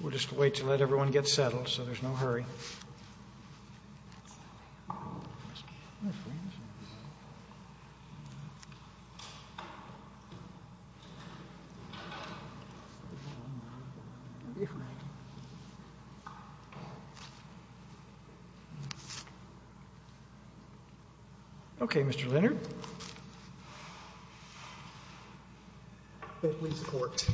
We'll just wait to let everyone get settled so there's no hurry. Okay Mr. Leonard. Please support.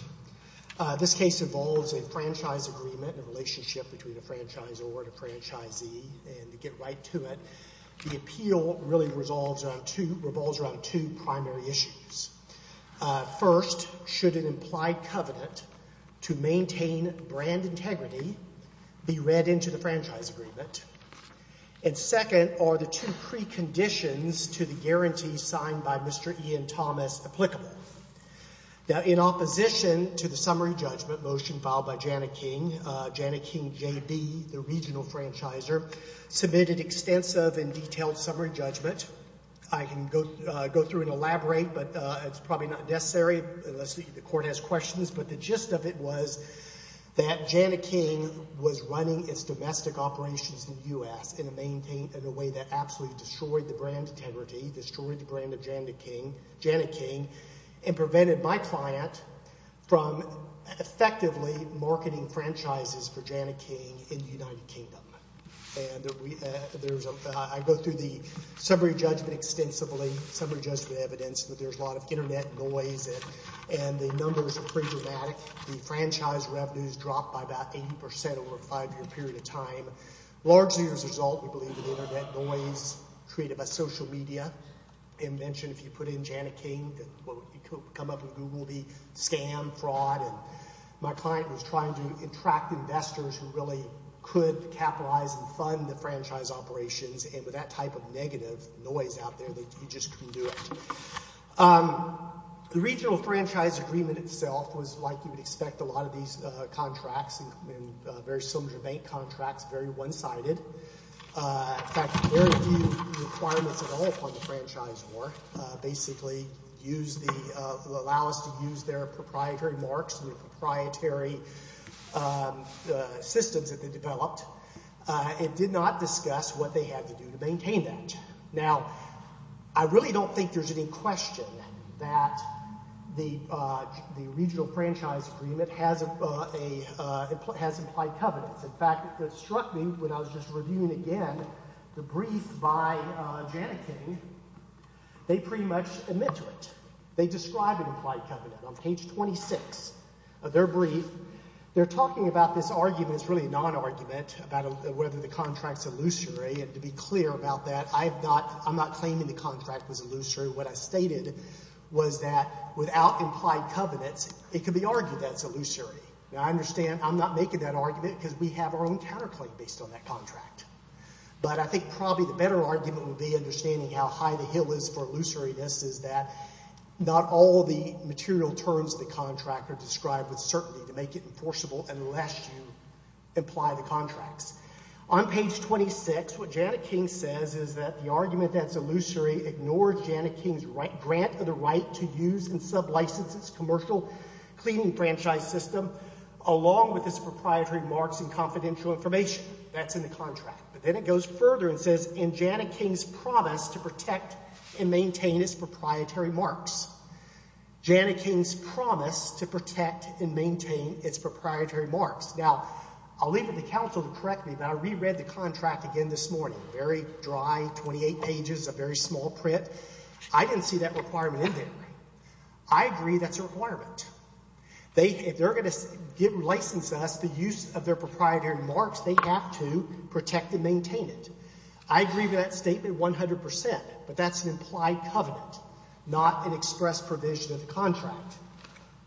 This case involves a franchise agreement, a relationship between a franchisor and a franchisee. And to get right to it, the appeal really revolves around two primary issues. First should an implied covenant to maintain brand integrity be read into the franchise agreement. And second are the two preconditions to the guarantee signed by Mr. Ian Thomas applicable. In opposition to the summary judgment motion filed by Jani-King, Jani-King JB, the regional franchisor, submitted extensive and detailed summary judgment. I can go through and elaborate, but it's probably not necessary unless the Court has questions. But the gist of it was that Jani-King was running its domestic operations in the U.S. in a way that absolutely destroyed the brand integrity, destroyed the brand of Jani-King, and prevented my client from effectively marketing franchises for Jani-King in the United Kingdom. I go through the summary judgment extensively, summary judgment evidence that there's a lot of internet noise and the numbers are pretty dramatic. The franchise revenues dropped by about 80% over a five-year period of time. Largely as a result, we believe that the internet noise created by social media, and mentioned if you put in Jani-King, it could come up in Google, the scam, fraud. My client was trying to attract investors who really could capitalize and fund the franchise operations, and with that type of negative noise out there, you just couldn't do it. The regional franchise agreement itself was like you would expect a lot of these contracts, very similar to bank contracts, very one-sided. In fact, very few requirements at all upon the franchisor basically allow us to use their proprietary marks and the proprietary systems that they developed. It did not discuss what they had to do to maintain that. Now, I really don't think there's any question that the regional franchise agreement has implied covenants. In fact, it struck me when I was just reviewing again the brief by Jani-King, they pretty much admit to it. They describe an implied covenant on page 26 of their brief. They're talking about this argument, it's really a non-argument, about whether the contract is illusory, and to be clear about that, I'm not claiming the contract was illusory. What I stated was that without implied covenants, it could be argued that it's illusory. Now, I understand I'm not making that argument because we have our own counterclaim based on that contract, but I think probably the better argument would be understanding how high the hill is for illusoriness is that not all the material terms of the contract are described with certainty to make it enforceable unless you imply the contracts. On page 26, what Jani-King says is that the argument that's illusory ignores Jani-King's grant of the right to use and sub-license its commercial cleaning franchise system along with its proprietary marks and confidential information that's in the contract. But then it goes further and says, in Jani-King's promise to protect and maintain its proprietary marks, Jani-King's promise to protect and maintain its proprietary marks. Now, I'll leave it to counsel to correct me, but I reread the contract again this morning, very dry, 28 pages, a very small print. I didn't see that requirement in there. I agree that's a requirement. They, if they're going to license us the use of their proprietary marks, they have to protect and maintain it. I agree with that statement 100%, but that's an implied covenant, not an express provision of the contract.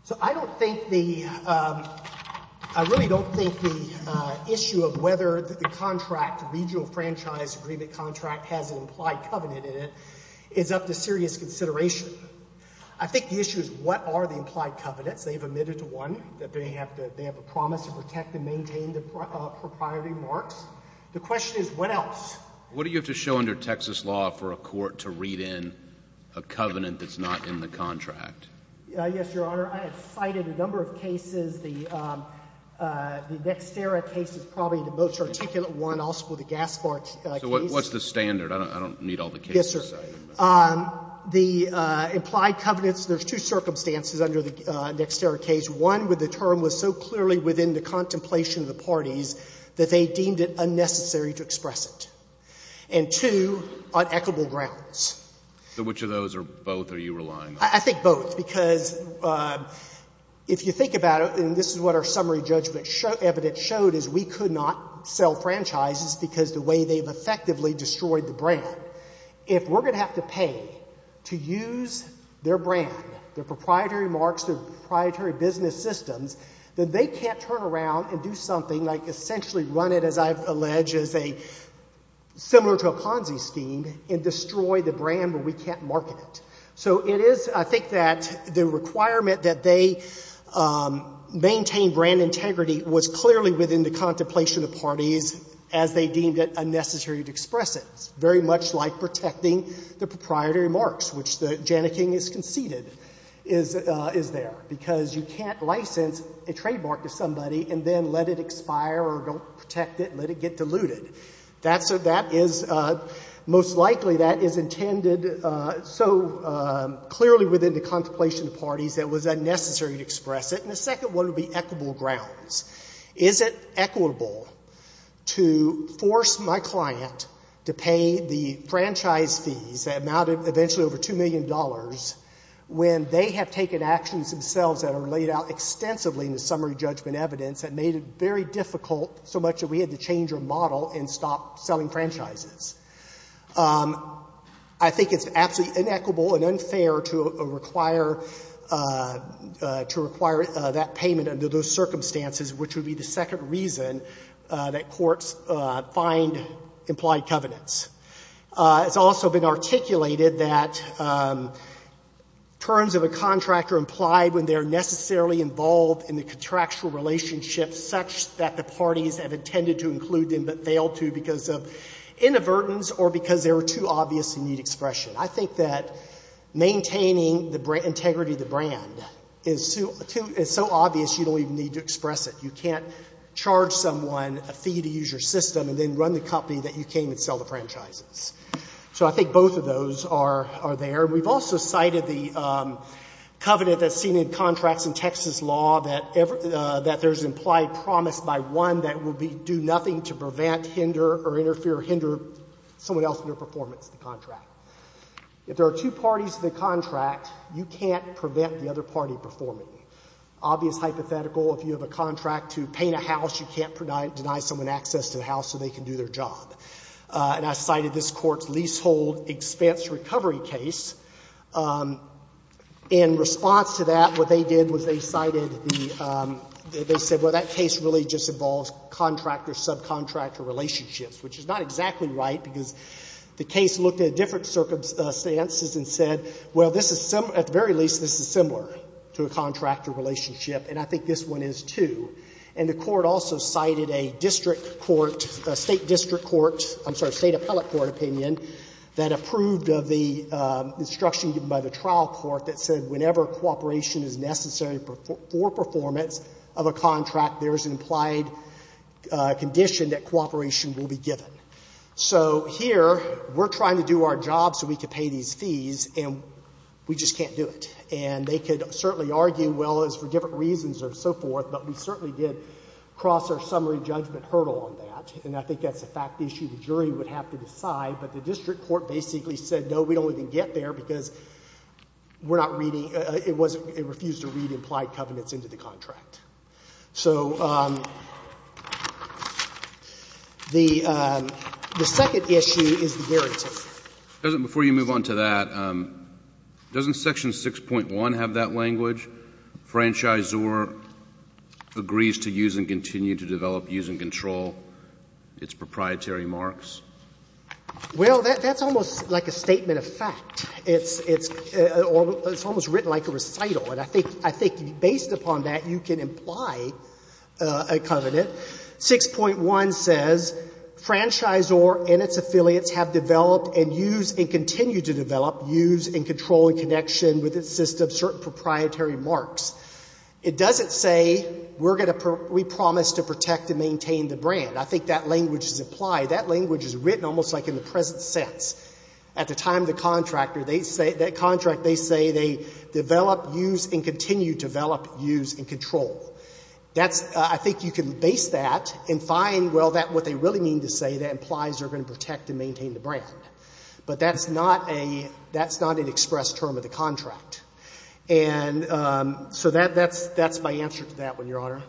So I don't think the, I really don't think the issue of whether the contract, regional franchise agreement contract, has an implied covenant in it is up to serious consideration. I think the issue is what are the implied covenants? They've admitted to one, that they have to, they have a promise to protect and maintain the proprietary marks. The question is what else? What do you have to show under Texas law for a court to read in a covenant that's not in the contract? Yes, Your Honor. I have cited a number of cases. The Nexterra case is probably the most articulate one, also the Gaspard case. What's the standard? I don't need all the cases. Yes, sir. The implied covenants, there's two circumstances under the Nexterra case. One, where the term was so clearly within the contemplation of the parties that they deemed it unnecessary to express it. And two, on equitable grounds. Which of those, or both, are you relying on? I think both, because if you think about it, and this is what our summary judgment evidence showed, is we could not sell franchises because the way they've effectively destroyed the brand. If we're going to have to pay to use their brand, their proprietary marks, their proprietary business systems, then they can't turn around and do something like essentially run it, as I've alleged, as a similar to a Ponzi scheme, and destroy the brand where we can't market it. So it is, I think, that the requirement that they maintain brand integrity was clearly within the contemplation of parties as they deemed it unnecessary to express it. It's very much like protecting the proprietary marks, which the Janneking is conceded is there. Because you can't license a trademark to somebody and then let it expire, or don't protect it, let it get diluted. That is most likely that is intended so clearly within the contemplation of parties that it was unnecessary to express it. And the second one would be equitable grounds. Is it equitable to force my client to pay the franchise fees that amounted eventually over $2 million when they have taken actions themselves that are laid out extensively in the summary judgment evidence that made it very difficult so much that we had to change our model and stop selling franchises? I think it's absolutely inequitable and unfair to require that payment under those circumstances, which would be the second reason that courts find implied covenants. It's also been articulated that terms of a contractor implied when they're necessarily involved in the contractual relationship such that the parties have intended to include them but failed to because of inadvertence or because they were too obvious and need expression. I think that maintaining the integrity of the brand is so obvious you don't even need to express it. You can't charge someone a fee to use your system and then run the company that you came to sell the franchises. So I think both of those are there. We've also cited the covenant that's seen in contracts in Texas law that there's implied promise by one that will do nothing to prevent, hinder, or interfere or hinder someone else in their performance in the contract. If there are two parties in the contract, you can't prevent the other party performing. Obvious hypothetical, if you have a contract to paint a house, you can't deny someone access to the house so they can do their job. And I cited this Court's leasehold expense recovery case. In response to that, what they did was they cited the — they said, well, that case really just involves contractor-subcontractor relationships, which is not exactly right because the case looked at different circumstances and said, well, this is — at the very least, this is similar to a contractor relationship, and I think this one is, too. And the Court also cited a district court — a state district court — I'm sorry, state appellate court opinion that approved of the instruction given by the trial court that said whenever cooperation is necessary for performance of a contract, there is an implied condition that cooperation will be given. So here, we're trying to do our job so we can pay these fees, and we just can't do it. And they could certainly argue, well, it's for different reasons or so forth, but we certainly did cross our summary judgment hurdle on that, and I think that's a fact issue the jury would have to decide. But the district court basically said, no, we don't even get there because we're not reading — it wasn't — it refused to read implied covenants into the contract. So the second issue is the guarantee. Before you move on to that, doesn't Section 6.1 have that language? Franchisor agrees to use and continue to develop, use and control its proprietary marks? Well, that's almost like a statement of fact. It's almost written like a recital. And I think based upon that, you can imply a covenant. 6.1 says franchisor and its affiliates have developed and use and continue to develop, use and control in connection with its system's certain proprietary marks. It doesn't say we're going to — we promise to protect and maintain the brand. I think that language is implied. That language is written almost like in the present sense. At the time of the contractor, they say — that contract, they say they develop, use, and continue to develop, use, and control. That's — I think you can base that and find, well, what they really mean to say, that implies they're going to protect and maintain the brand. But that's not a — that's not an express term of the contract. And so that's my answer to that one, Your Honor.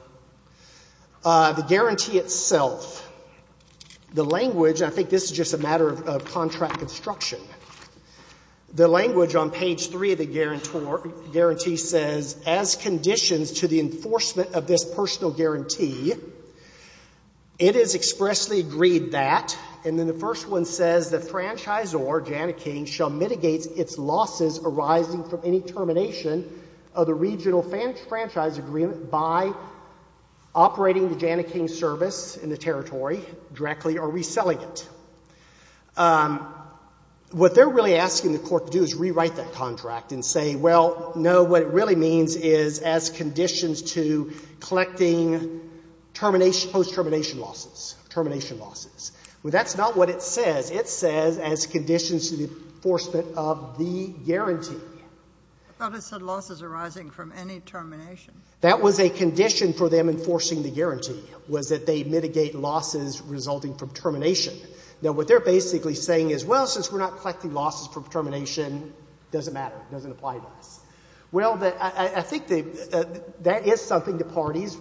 The guarantee itself, the language — and I think this is just a matter of contract construction — the language on page 3 of the guarantee says, as conditions to the enforcement of this personal guarantee, it is expressly agreed that — and then the first one says, the franchisor, Jana King, shall mitigate its losses arising from any termination of the regional franchise agreement by operating the Jana King service in the territory directly or reselling it. What they're really asking the court to do is rewrite that contract and say, well, no, what it really means is, as conditions to collecting termination — post-termination losses, termination losses. Well, that's not what it says. It says, as conditions to the enforcement of the guarantee. I thought it said losses arising from any termination. That was a condition for them enforcing the guarantee, was that they mitigate losses resulting from termination. Now, what they're basically saying is, well, since we're not collecting losses from termination, it doesn't matter. It doesn't apply to us. Well, I think that is something the parties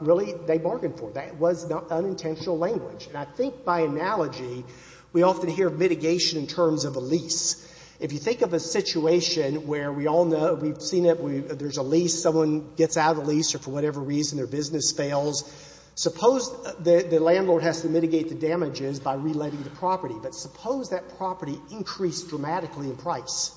really, they bargained for. That was unintentional language. And I think by analogy, we often hear mitigation in terms of a lease. If you think of a situation where we all know — we've seen it, there's a lease, someone gets out of the lease, or for whatever reason their business fails. Suppose the landlord has to mitigate the damages by reletting the property. But suppose that property increased dramatically in price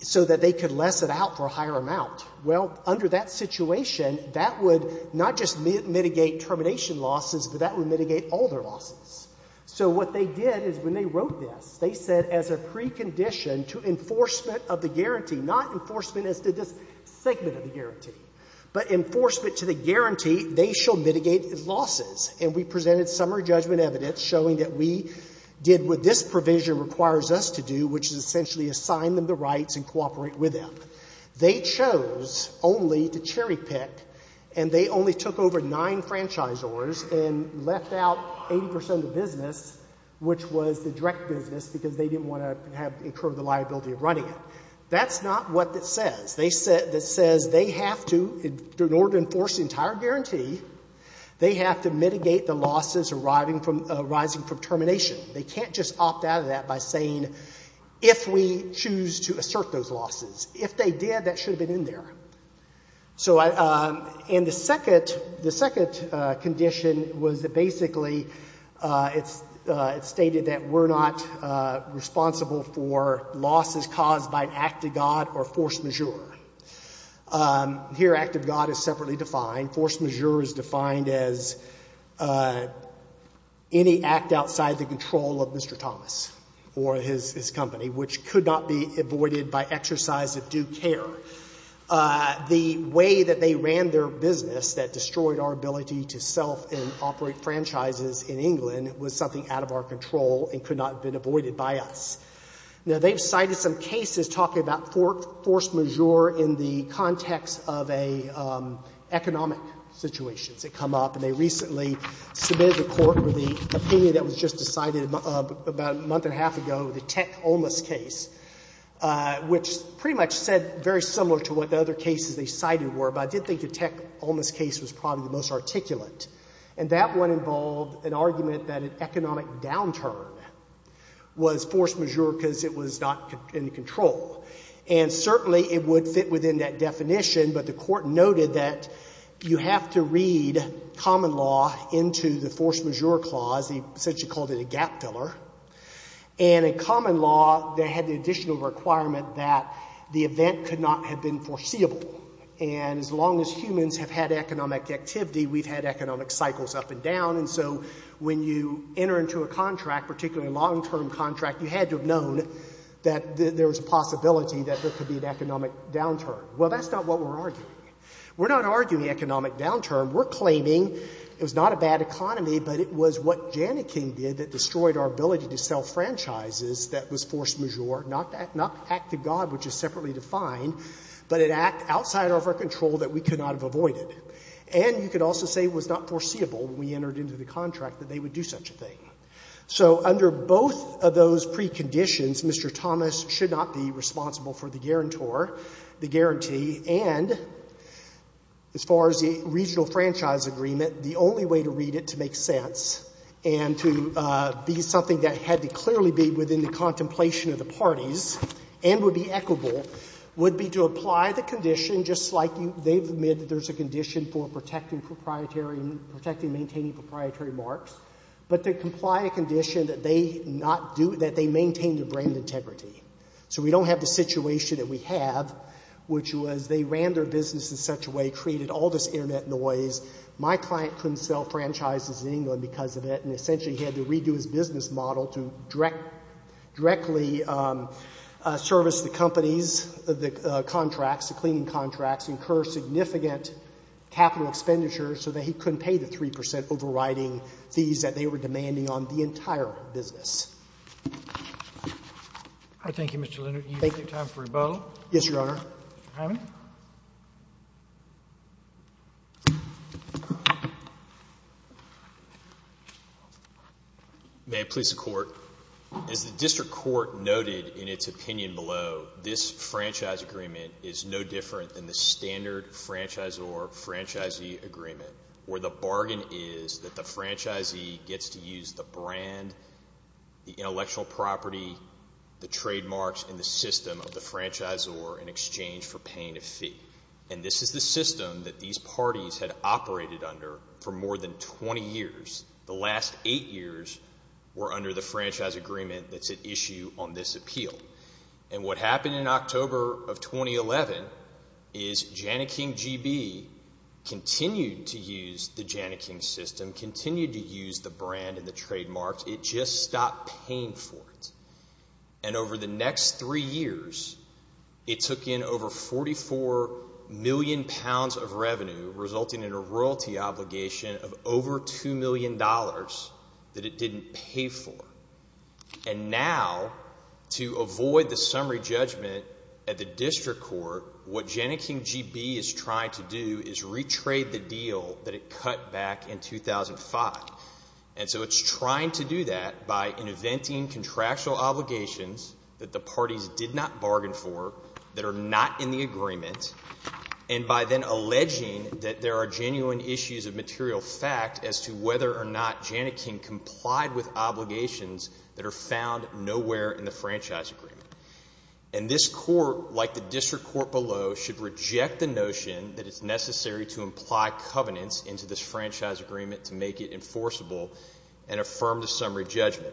so that they could less it out for a higher amount. Well, under that situation, that would not just mitigate termination losses, but that would mitigate all their losses. So what they did is when they wrote this, they said as a precondition to enforcement of the guarantee, not enforcement as to this segment of the guarantee, but enforcement to the guarantee, they shall mitigate losses. And we presented summary judgment evidence showing that we did what this provision requires us to do, which is essentially assign them the rights and cooperate with them. They chose only to cherry-pick, and they only took over nine franchisors and left out 80 percent of the business, which was the direct business, because they didn't want to incur the liability of running it. That's not what it says. It says they have to, in order to enforce the entire guarantee, they have to mitigate the losses arising from termination. They can't just opt out of that by saying, if we choose to assert those losses. If they did, that should have been in there. So, and the second condition was that basically it stated that we're not responsible for losses caused by an act of God or force majeure. Here, act of God is separately defined. Force majeure is defined as any act outside the control of Mr. Thomas or his company, which could not be avoided by exercise of due care. The way that they ran their business that destroyed our ability to sell and operate franchises in England was something out of our control and could not have been avoided by us. Now, they've cited some cases talking about force majeure in the context of economic situations that come up, and they recently submitted to court the opinion that was just decided about a month and a half ago, the Tech Olmos case, which pretty much said very similar to what the other cases they cited were. But I did think the Tech Olmos case was probably the most articulate, and that one involved an argument that an economic downturn was force majeure because it was not in control. And certainly it would fit within that definition, but the court noted that you have to read common law into the force majeure clause. He essentially called it a gap filler. And in common law, they had the additional requirement that the event could not have been foreseeable. And as long as humans have had economic activity, we've had economic cycles up and down, and so when you enter into a contract, particularly a long-term contract, you had to have known that there was a possibility that there could be an economic downturn. Well, that's not what we're arguing. We're not arguing economic downturn. We're claiming it was not a bad economy, but it was what Janneking did that destroyed our ability to sell franchises that was force majeure, not act to God, which is separately defined, but an act outside of our control that we could not have avoided. And you could also say it was not foreseeable when we entered into the contract that they would do such a thing. So under both of those preconditions, Mr. Thomas should not be responsible for the guarantor, the guarantee, and as far as the regional franchise agreement, the only way to read it to make sense and to be something that had to clearly be within the contemplation of the parties and would be equitable would be to apply the condition just like they've made that there's a condition for protecting proprietary and protecting maintaining proprietary marks, but they comply a condition that they not do, that they maintain their brand integrity. So we don't have the situation that we have, which was they ran their business in such a way, created all this internet noise. My client couldn't sell franchises in England because of it, and essentially he had to redo his business model to directly service the companies, the contracts, the cleaning contracts, incur significant capital expenditure so that he couldn't pay the 3% overriding fees that they were demanding on the entire business. Thank you, Mr. Leonard. Do you have time for rebuttal? Yes, Your Honor. May it please the Court. As the District Court noted in its opinion below, this franchise agreement is no different than the standard franchisor-franchisee agreement, where the bargain is that the franchisee gets to use the brand, the intellectual property, the trademarks, and the system of the franchisor in exchange for paying a fee. And this is the system that these parties had operated under for more than 20 years. The last eight years were under the franchise agreement that's at issue on this appeal. And what happened in October of 2011 is Janneking GB continued to use the Janneking system, continued to use the brand and the trademarks. It just stopped paying for it. And over the next three years, it took in over 44 million pounds of revenue, resulting in a royalty obligation of over $2 million that it didn't pay for. And now, to avoid the summary judgment at the District Court, what Janneking GB is trying to do is retrade the deal that it cut back in 2005. And so it's trying to do that by inventing contractual obligations that the parties did not bargain for, that are not in the agreement, and by then alleging that there are genuine issues of material fact as to whether or not Janneking complied with obligations that are found nowhere in the franchise agreement. And this Court, like the District Court below, should reject the notion that it's necessary to imply covenants into this franchise agreement to make it enforceable and affirm the summary judgment.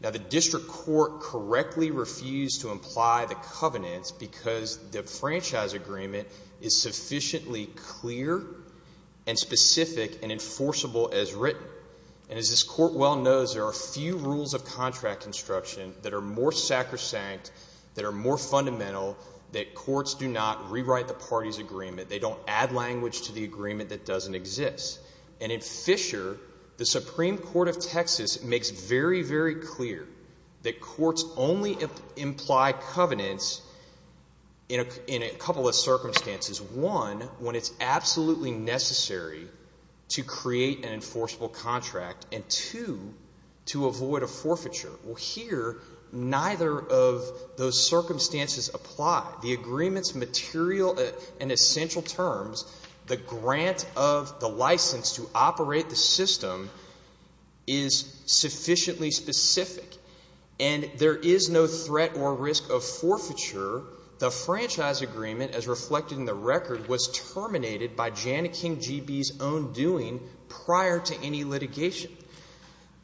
Now, the District Court correctly refused to imply the covenants because the franchise agreement is sufficiently clear and specific and enforceable as written. And as this Court well knows, there are few rules of contract construction that are more sacrosanct, that are more fundamental, that courts do not rewrite the party's agreement. They don't add language to the agreement that doesn't exist. And in Fisher, the Supreme Court of Texas makes very, very clear that courts only imply covenants in a couple of circumstances. One, when it's absolutely necessary to create an enforceable contract. And two, to avoid a forfeiture. Well, here, neither of those circumstances apply. The agreement's material and essential terms, the grant of the license to operate the system is sufficiently specific. And there is no threat or risk of forfeiture. The franchise agreement, as reflected in the record, was terminated by Janneking G.B.'s own doing prior to any litigation.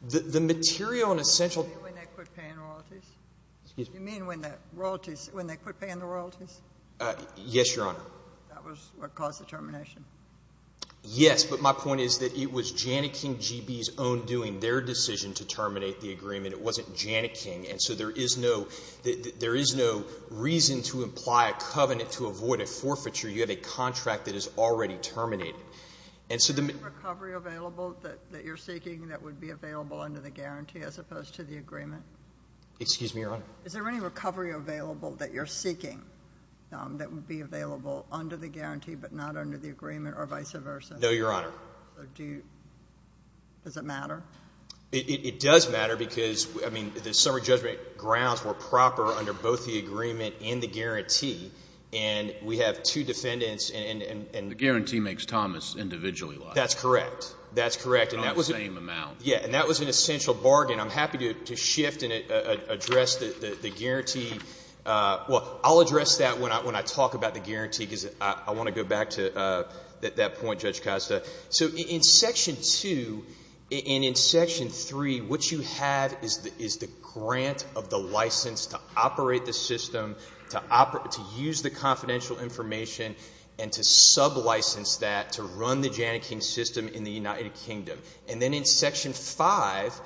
The material and essential- Do you mean when they quit paying the royalties? Excuse me? Do you mean when they quit paying the royalties? Yes, Your Honor. That was what caused the termination? Yes, but my point is that it was Janneking G.B.'s own doing, their decision to terminate the agreement. It wasn't Janneking. And so there is no reason to imply a covenant to avoid a forfeiture. You have a contract that is already terminated. Is there any recovery available that you're seeking that would be available under the guarantee as opposed to the agreement? Excuse me, Your Honor? Is there any recovery available that you're seeking that would be available under the guarantee but not under the agreement or vice versa? No, Your Honor. Does it matter? It does matter because, I mean, the summary judgment grounds were proper under both the agreement and the guarantee, and we have two defendants and- The guarantee makes Thomas individually liable. That's correct. That's correct. And that was- Not the same amount. Yeah, and that was an essential bargain. I'm happy to shift and address the guarantee. Well, I'll address that when I talk about the guarantee because I want to go back to that point, Judge Costa. So in Section 2 and in Section 3, what you have is the grant of the license to operate the system, to use the confidential information, and to sublicense that to run the Janneking system in the United Kingdom. And then in Section 5,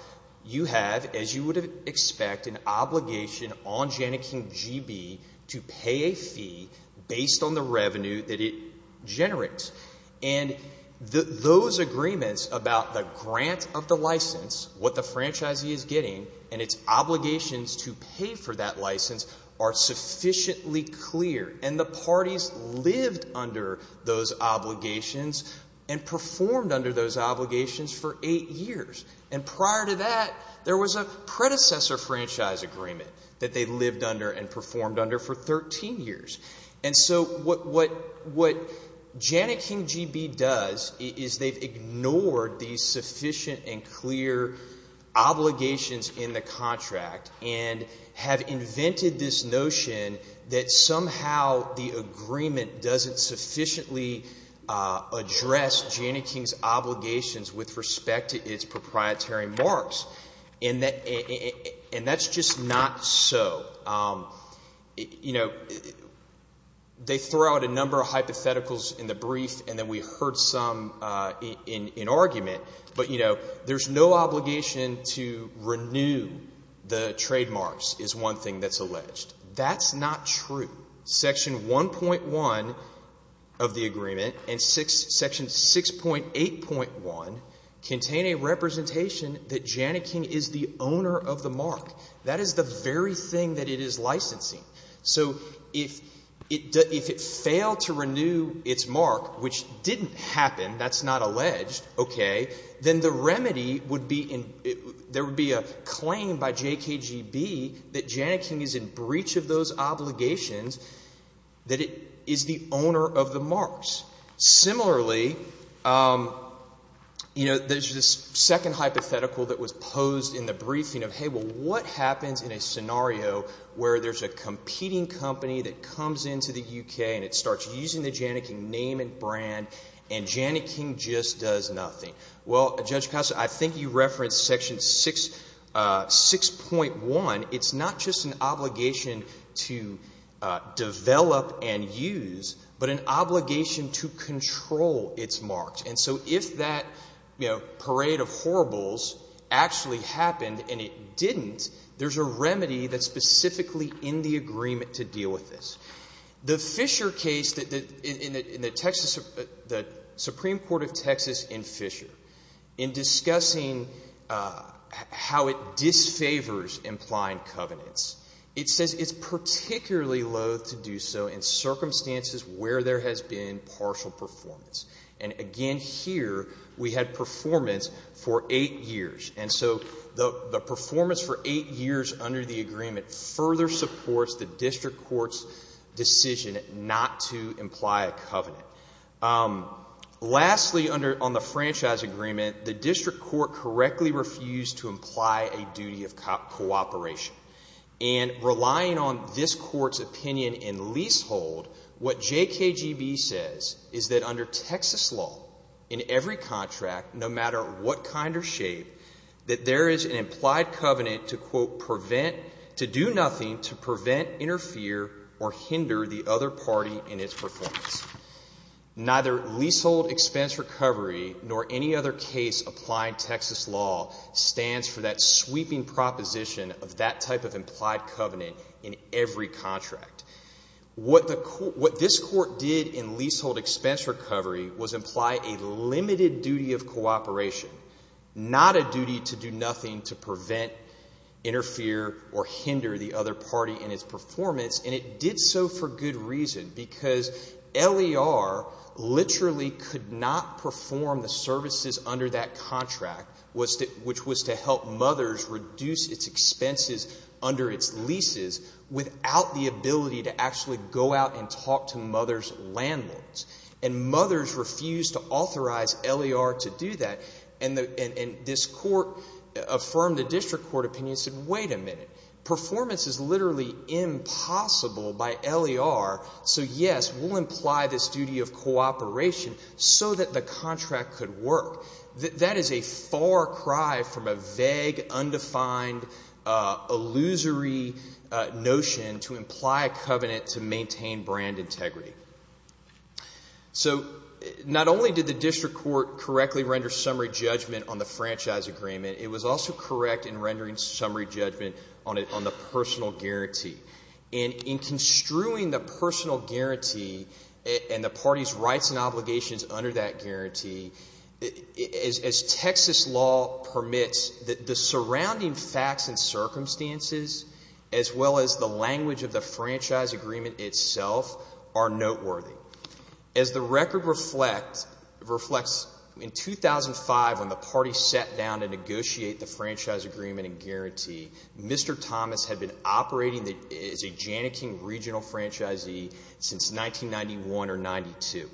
you have, as you would expect, an obligation on Janneking GB to pay a fee based on the revenue that it generates. And those agreements about the grant of the license, what the franchisee is getting, and its obligations to pay for that license are sufficiently clear. And the parties lived under those obligations and performed under those obligations for eight years. And prior to that, there was a predecessor franchise agreement that they lived under and performed under for 13 years. And so what Janneking GB does is they've ignored these sufficient and clear obligations in the contract and have invented this notion that somehow the agreement doesn't sufficiently address Janneking's obligations with respect to its proprietary marks. And that's just not so. You know, they throw out a number of hypotheticals in the brief, and then we heard some in argument. But, you know, there's no obligation to renew the trademarks is one thing that's alleged. That's not true. Section 1.1 of the agreement and Section 6.8.1 contain a representation that Janneking is the owner of the mark. That is the very thing that it is licensing. So if it failed to renew its mark, which didn't happen, that's not alleged, okay, then the remedy would be there would be a claim by JKGB that Janneking is in breach of those obligations, that it is the owner of the marks. Similarly, you know, there's this second hypothetical that was posed in the briefing of, well, what happens in a scenario where there's a competing company that comes into the UK and it starts using the Janneking name and brand, and Janneking just does nothing? Well, Judge Costa, I think you referenced Section 6.1. It's not just an obligation to develop and use, but an obligation to control its marks. And so if that, you know, parade of horribles actually happened and it didn't, there's a remedy that's specifically in the agreement to deal with this. The Fisher case in the Texas, the Supreme Court of Texas in Fisher, in discussing how it disfavors implying covenants, it says it's particularly loath to do so in circumstances where there has been partial performance. And again, here, we had performance for eight years. And so the performance for eight years under the agreement further supports the District Court's decision not to imply a covenant. Lastly, under, on the franchise agreement, the District Court correctly refused to imply a duty of cooperation. And relying on this Court's opinion in leasehold, what JKGB says is that under Texas law, in every contract, no matter what kind or shape, that there is an implied covenant to, quote, prevent, to do nothing to prevent, interfere, or hinder the other party in its performance. Neither leasehold expense recovery nor any other case applying Texas law stands for that type of implied covenant in every contract. What the, what this Court did in leasehold expense recovery was imply a limited duty of cooperation, not a duty to do nothing to prevent, interfere, or hinder the other party in its performance. And it did so for good reason, because LER literally could not perform the services under that contract, which was to help mothers reduce its expenses under its leases without the ability to actually go out and talk to mother's landlords. And mothers refused to authorize LER to do that. And this Court affirmed the District Court opinion and said, wait a minute, performance is literally impossible by LER, so yes, we'll imply this duty of cooperation so that the that is a far cry from a vague, undefined, illusory notion to imply a covenant to maintain brand integrity. So, not only did the District Court correctly render summary judgment on the franchise agreement, it was also correct in rendering summary judgment on the personal guarantee. And in construing the personal guarantee and the party's rights and obligations under that Texas law permits that the surrounding facts and circumstances, as well as the language of the franchise agreement itself, are noteworthy. As the record reflects, in 2005, when the party sat down to negotiate the franchise agreement and guarantee, Mr. Thomas had been operating as a Janneking Regional Franchisee since 1991 or 92.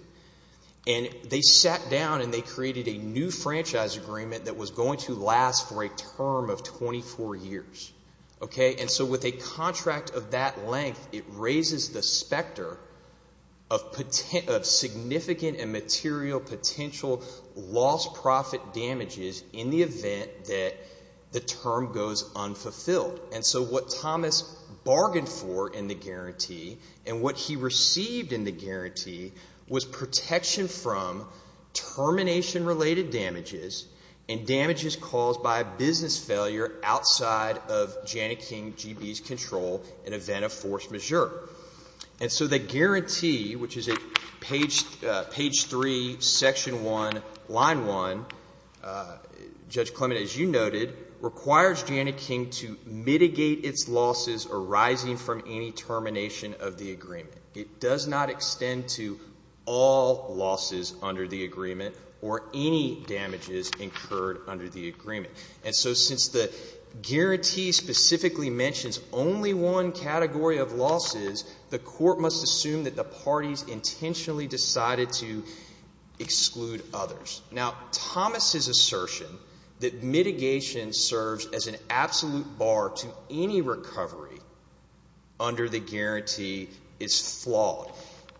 And they sat down and they created a new franchise agreement that was going to last for a term of 24 years, okay? And so with a contract of that length, it raises the specter of significant and material potential lost profit damages in the event that the term goes unfulfilled. And so what Thomas bargained for in the guarantee and what he received in the guarantee was protection from termination-related damages and damages caused by a business failure outside of Janneking GB's control in event of force majeure. And so the guarantee, which is at page three, section one, line one, Judge Clement, as you noted, requires Janneking to mitigate its losses arising from any termination of the agreement. It does not extend to all losses under the agreement or any damages incurred under the agreement. And so since the guarantee specifically mentions only one category of losses, the court must assume that the parties intentionally decided to exclude others. Now, Thomas's assertion that mitigation serves as an absolute bar to any recovery under the guarantee is flawed.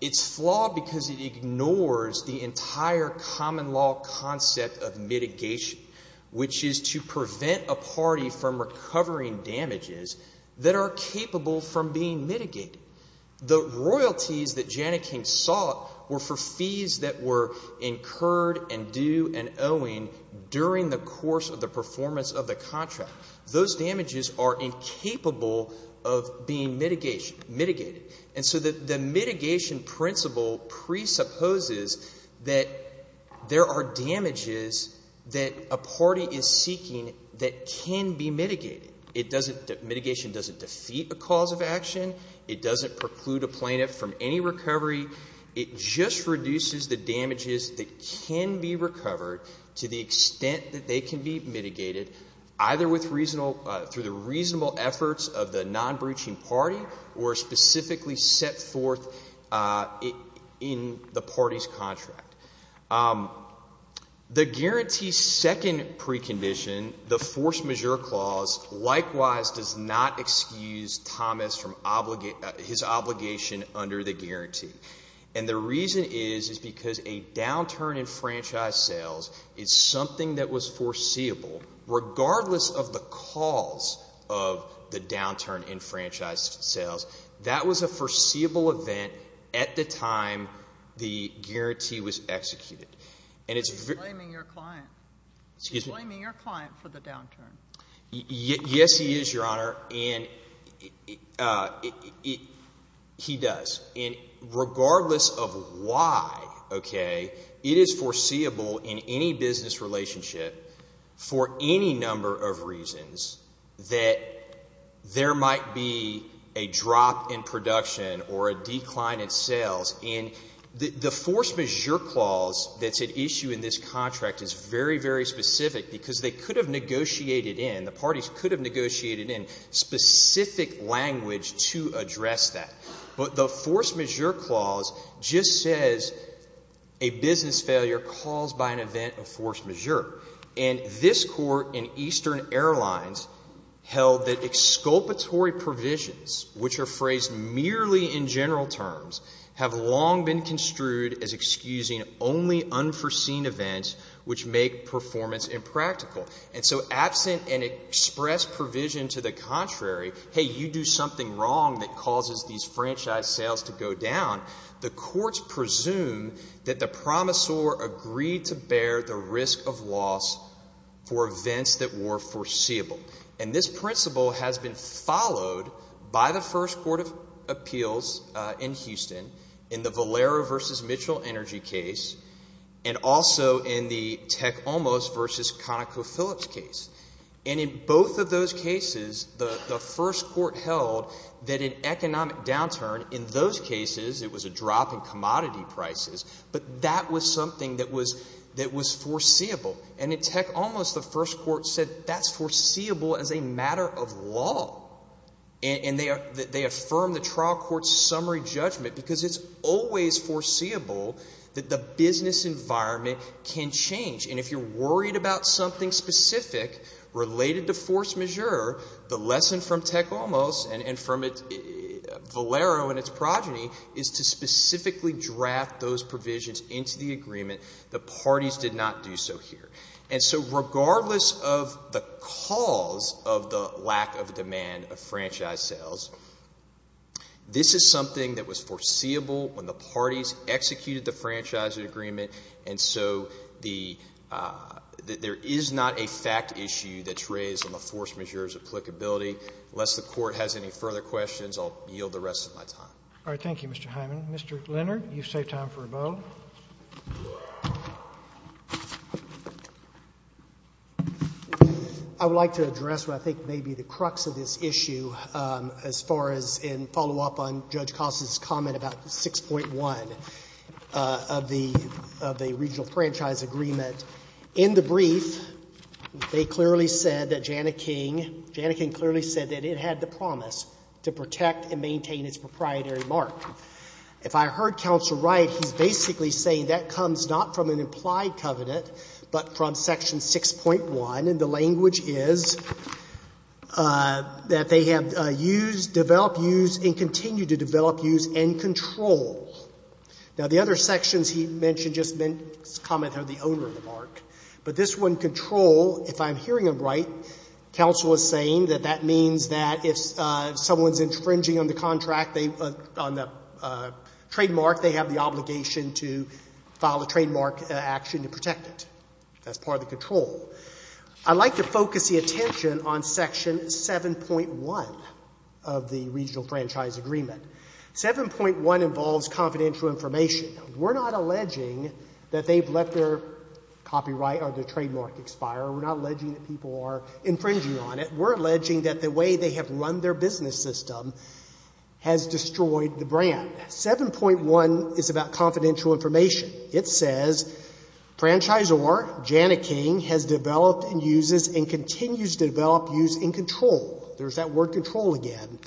It's flawed because it ignores the entire common law concept of mitigation, which is to prevent a party from recovering damages that are capable from being mitigated. The royalties that Janneking sought were for fees that were incurred and due and owing during the course of the performance of the contract. Those damages are incapable of being mitigated. And so the mitigation principle presupposes that there are damages that a party is seeking that can be mitigated. It doesn't, mitigation doesn't defeat a cause of action. It doesn't preclude a plaintiff from any recovery. It just reduces the damages that can be recovered to the extent that they can be mitigated, either with reasonable, through the reasonable efforts of the non-breaching party or specifically set forth in the party's contract. The guarantee's second precondition, the force majeure clause, likewise does not excuse Thomas from his obligation under the guarantee. And the reason is, is because a downturn in franchise sales is something that was foreseeable regardless of the cause of the downturn in franchise sales. That was a foreseeable event at the time the guarantee was executed. And it's very- He's blaming your client. Excuse me? He's blaming your client for the downturn. Yes, he is, Your Honor. And he does. And regardless of why, okay, it is foreseeable in any business relationship for any number of reasons that there might be a drop in production or a decline in sales. And the force majeure clause that's at issue in this contract is very, very specific because they could have negotiated in, the parties could have negotiated in specific language to address that. But the force majeure clause just says a business failure caused by an event of force majeure. And this Court in Eastern Airlines held that exculpatory provisions, which are phrased merely in general terms, have long been construed as excusing only unforeseen events which make performance impractical. And so absent an express provision to the contrary, hey, you do something wrong that causes these franchise sales to go down, the courts presume that the promissor agreed to bear the risk of loss for events that were foreseeable. And this principle has been followed by the First Court of Appeals in Houston in the Valero v. Mitchell Energy case and also in the Tech Olmos v. ConocoPhillips case. And in both of those cases, the First Court held that an economic downturn in those cases, it was a drop in commodity prices, but that was something that was foreseeable. And in Tech Olmos, the First Court said that's foreseeable as a matter of law. And they affirmed the trial court's summary judgment because it's always foreseeable that the business environment can change. And if you're worried about something specific related to force majeure, the lesson from Tech Olmos and from Valero and its progeny is to specifically draft those provisions into the agreement. The parties did not do so here. And so regardless of the cause of the lack of demand of franchise sales, this is something that was foreseeable when the parties executed the franchise agreement. And so there is not a fact issue that's raised on the force majeure's applicability. Unless the Court has any further questions, I'll yield the rest of my time. All right. Thank you, Mr. Hyman. Mr. Leonard, you've saved time for a vote. I would like to address what I think may be the crux of this issue as far as in follow-up on Judge Costa's comment about 6.1 of the regional franchise agreement. In the brief, they clearly said that Jana King, Jana King clearly said that it had the promise to protect and maintain its proprietary mark. If I heard counsel right, he's basically saying that comes not from an implied covenant, but from section 6.1. And the language is that they have used, developed, used, and continue to develop, use, and control. Now, the other sections he mentioned just meant his comment of the owner of the mark. But this one, control, if I'm hearing him right, counsel is saying that that means that if someone's infringing on the contract, on the trademark, they have the obligation to file a trademark action to protect it. That's part of the control. I'd like to focus the attention on section 7.1 of the regional franchise agreement. 7.1 involves confidential information. We're not alleging that they've let their copyright or their trademark expire. We're not alleging that people are infringing on it. We're alleging that the way they have run their business system has destroyed the brand. 7.1 is about confidential information. It says, franchisor, Jana King, has developed and uses and continues to develop, use, and control. There's that word control again.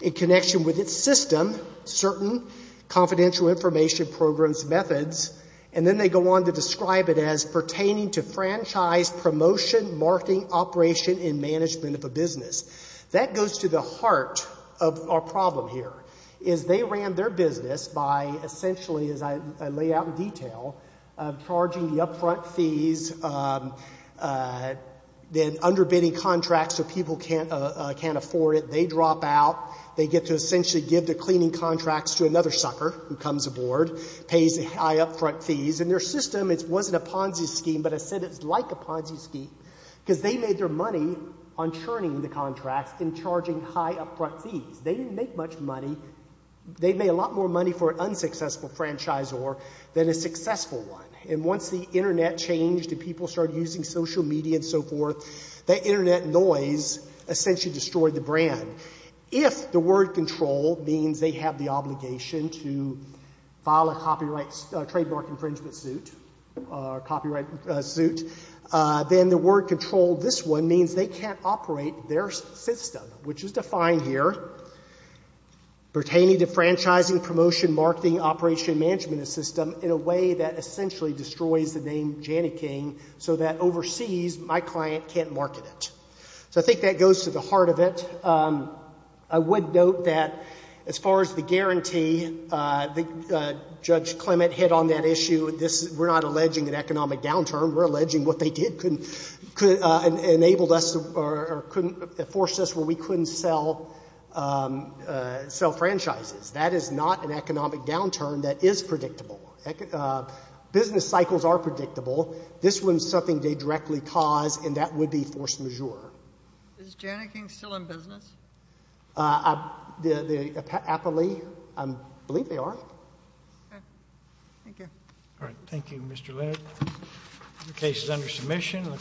In connection with its system, certain confidential information programs methods, and then they go on to describe it as pertaining to franchise promotion, marketing, operation, and management of a business. That goes to the heart of our problem here, is they ran their business by essentially, as I lay out in detail, charging the upfront fees, then underbidding contracts so people can't afford it. They drop out. They get to essentially give the cleaning contracts to another sucker who comes aboard, pays the high upfront fees. And their system, it wasn't a Ponzi scheme, but I said it's like a Ponzi scheme because they made their money on churning the contracts and charging high upfront fees. They didn't make much money. They made a lot more money for an unsuccessful franchisor than a successful one. And once the internet changed and people started using social media and so forth, that internet noise essentially destroyed the brand. If the word control means they have the obligation to file a copyright trademark infringement suit or copyright suit, then the word control, this one, means they can't operate their system, which is defined here, pertaining to franchising, promotion, marketing, operation, management, and system in a way that essentially destroys the name Janneking so that overseas, my client can't market it. So I think that goes to the heart of it. I would note that as far as the guarantee, Judge Clement hit on that issue. This, we're not alleging an economic downturn. We're alleging what they did enabled us or forced us where we couldn't sell franchises. That is not an economic downturn that is predictable. Business cycles are predictable. This wasn't something they directly caused, and that would be force majeure. Is Janneking still in business? I believe they are. Thank you. All right. Thank you, Mr. Leonard. The case is under submission.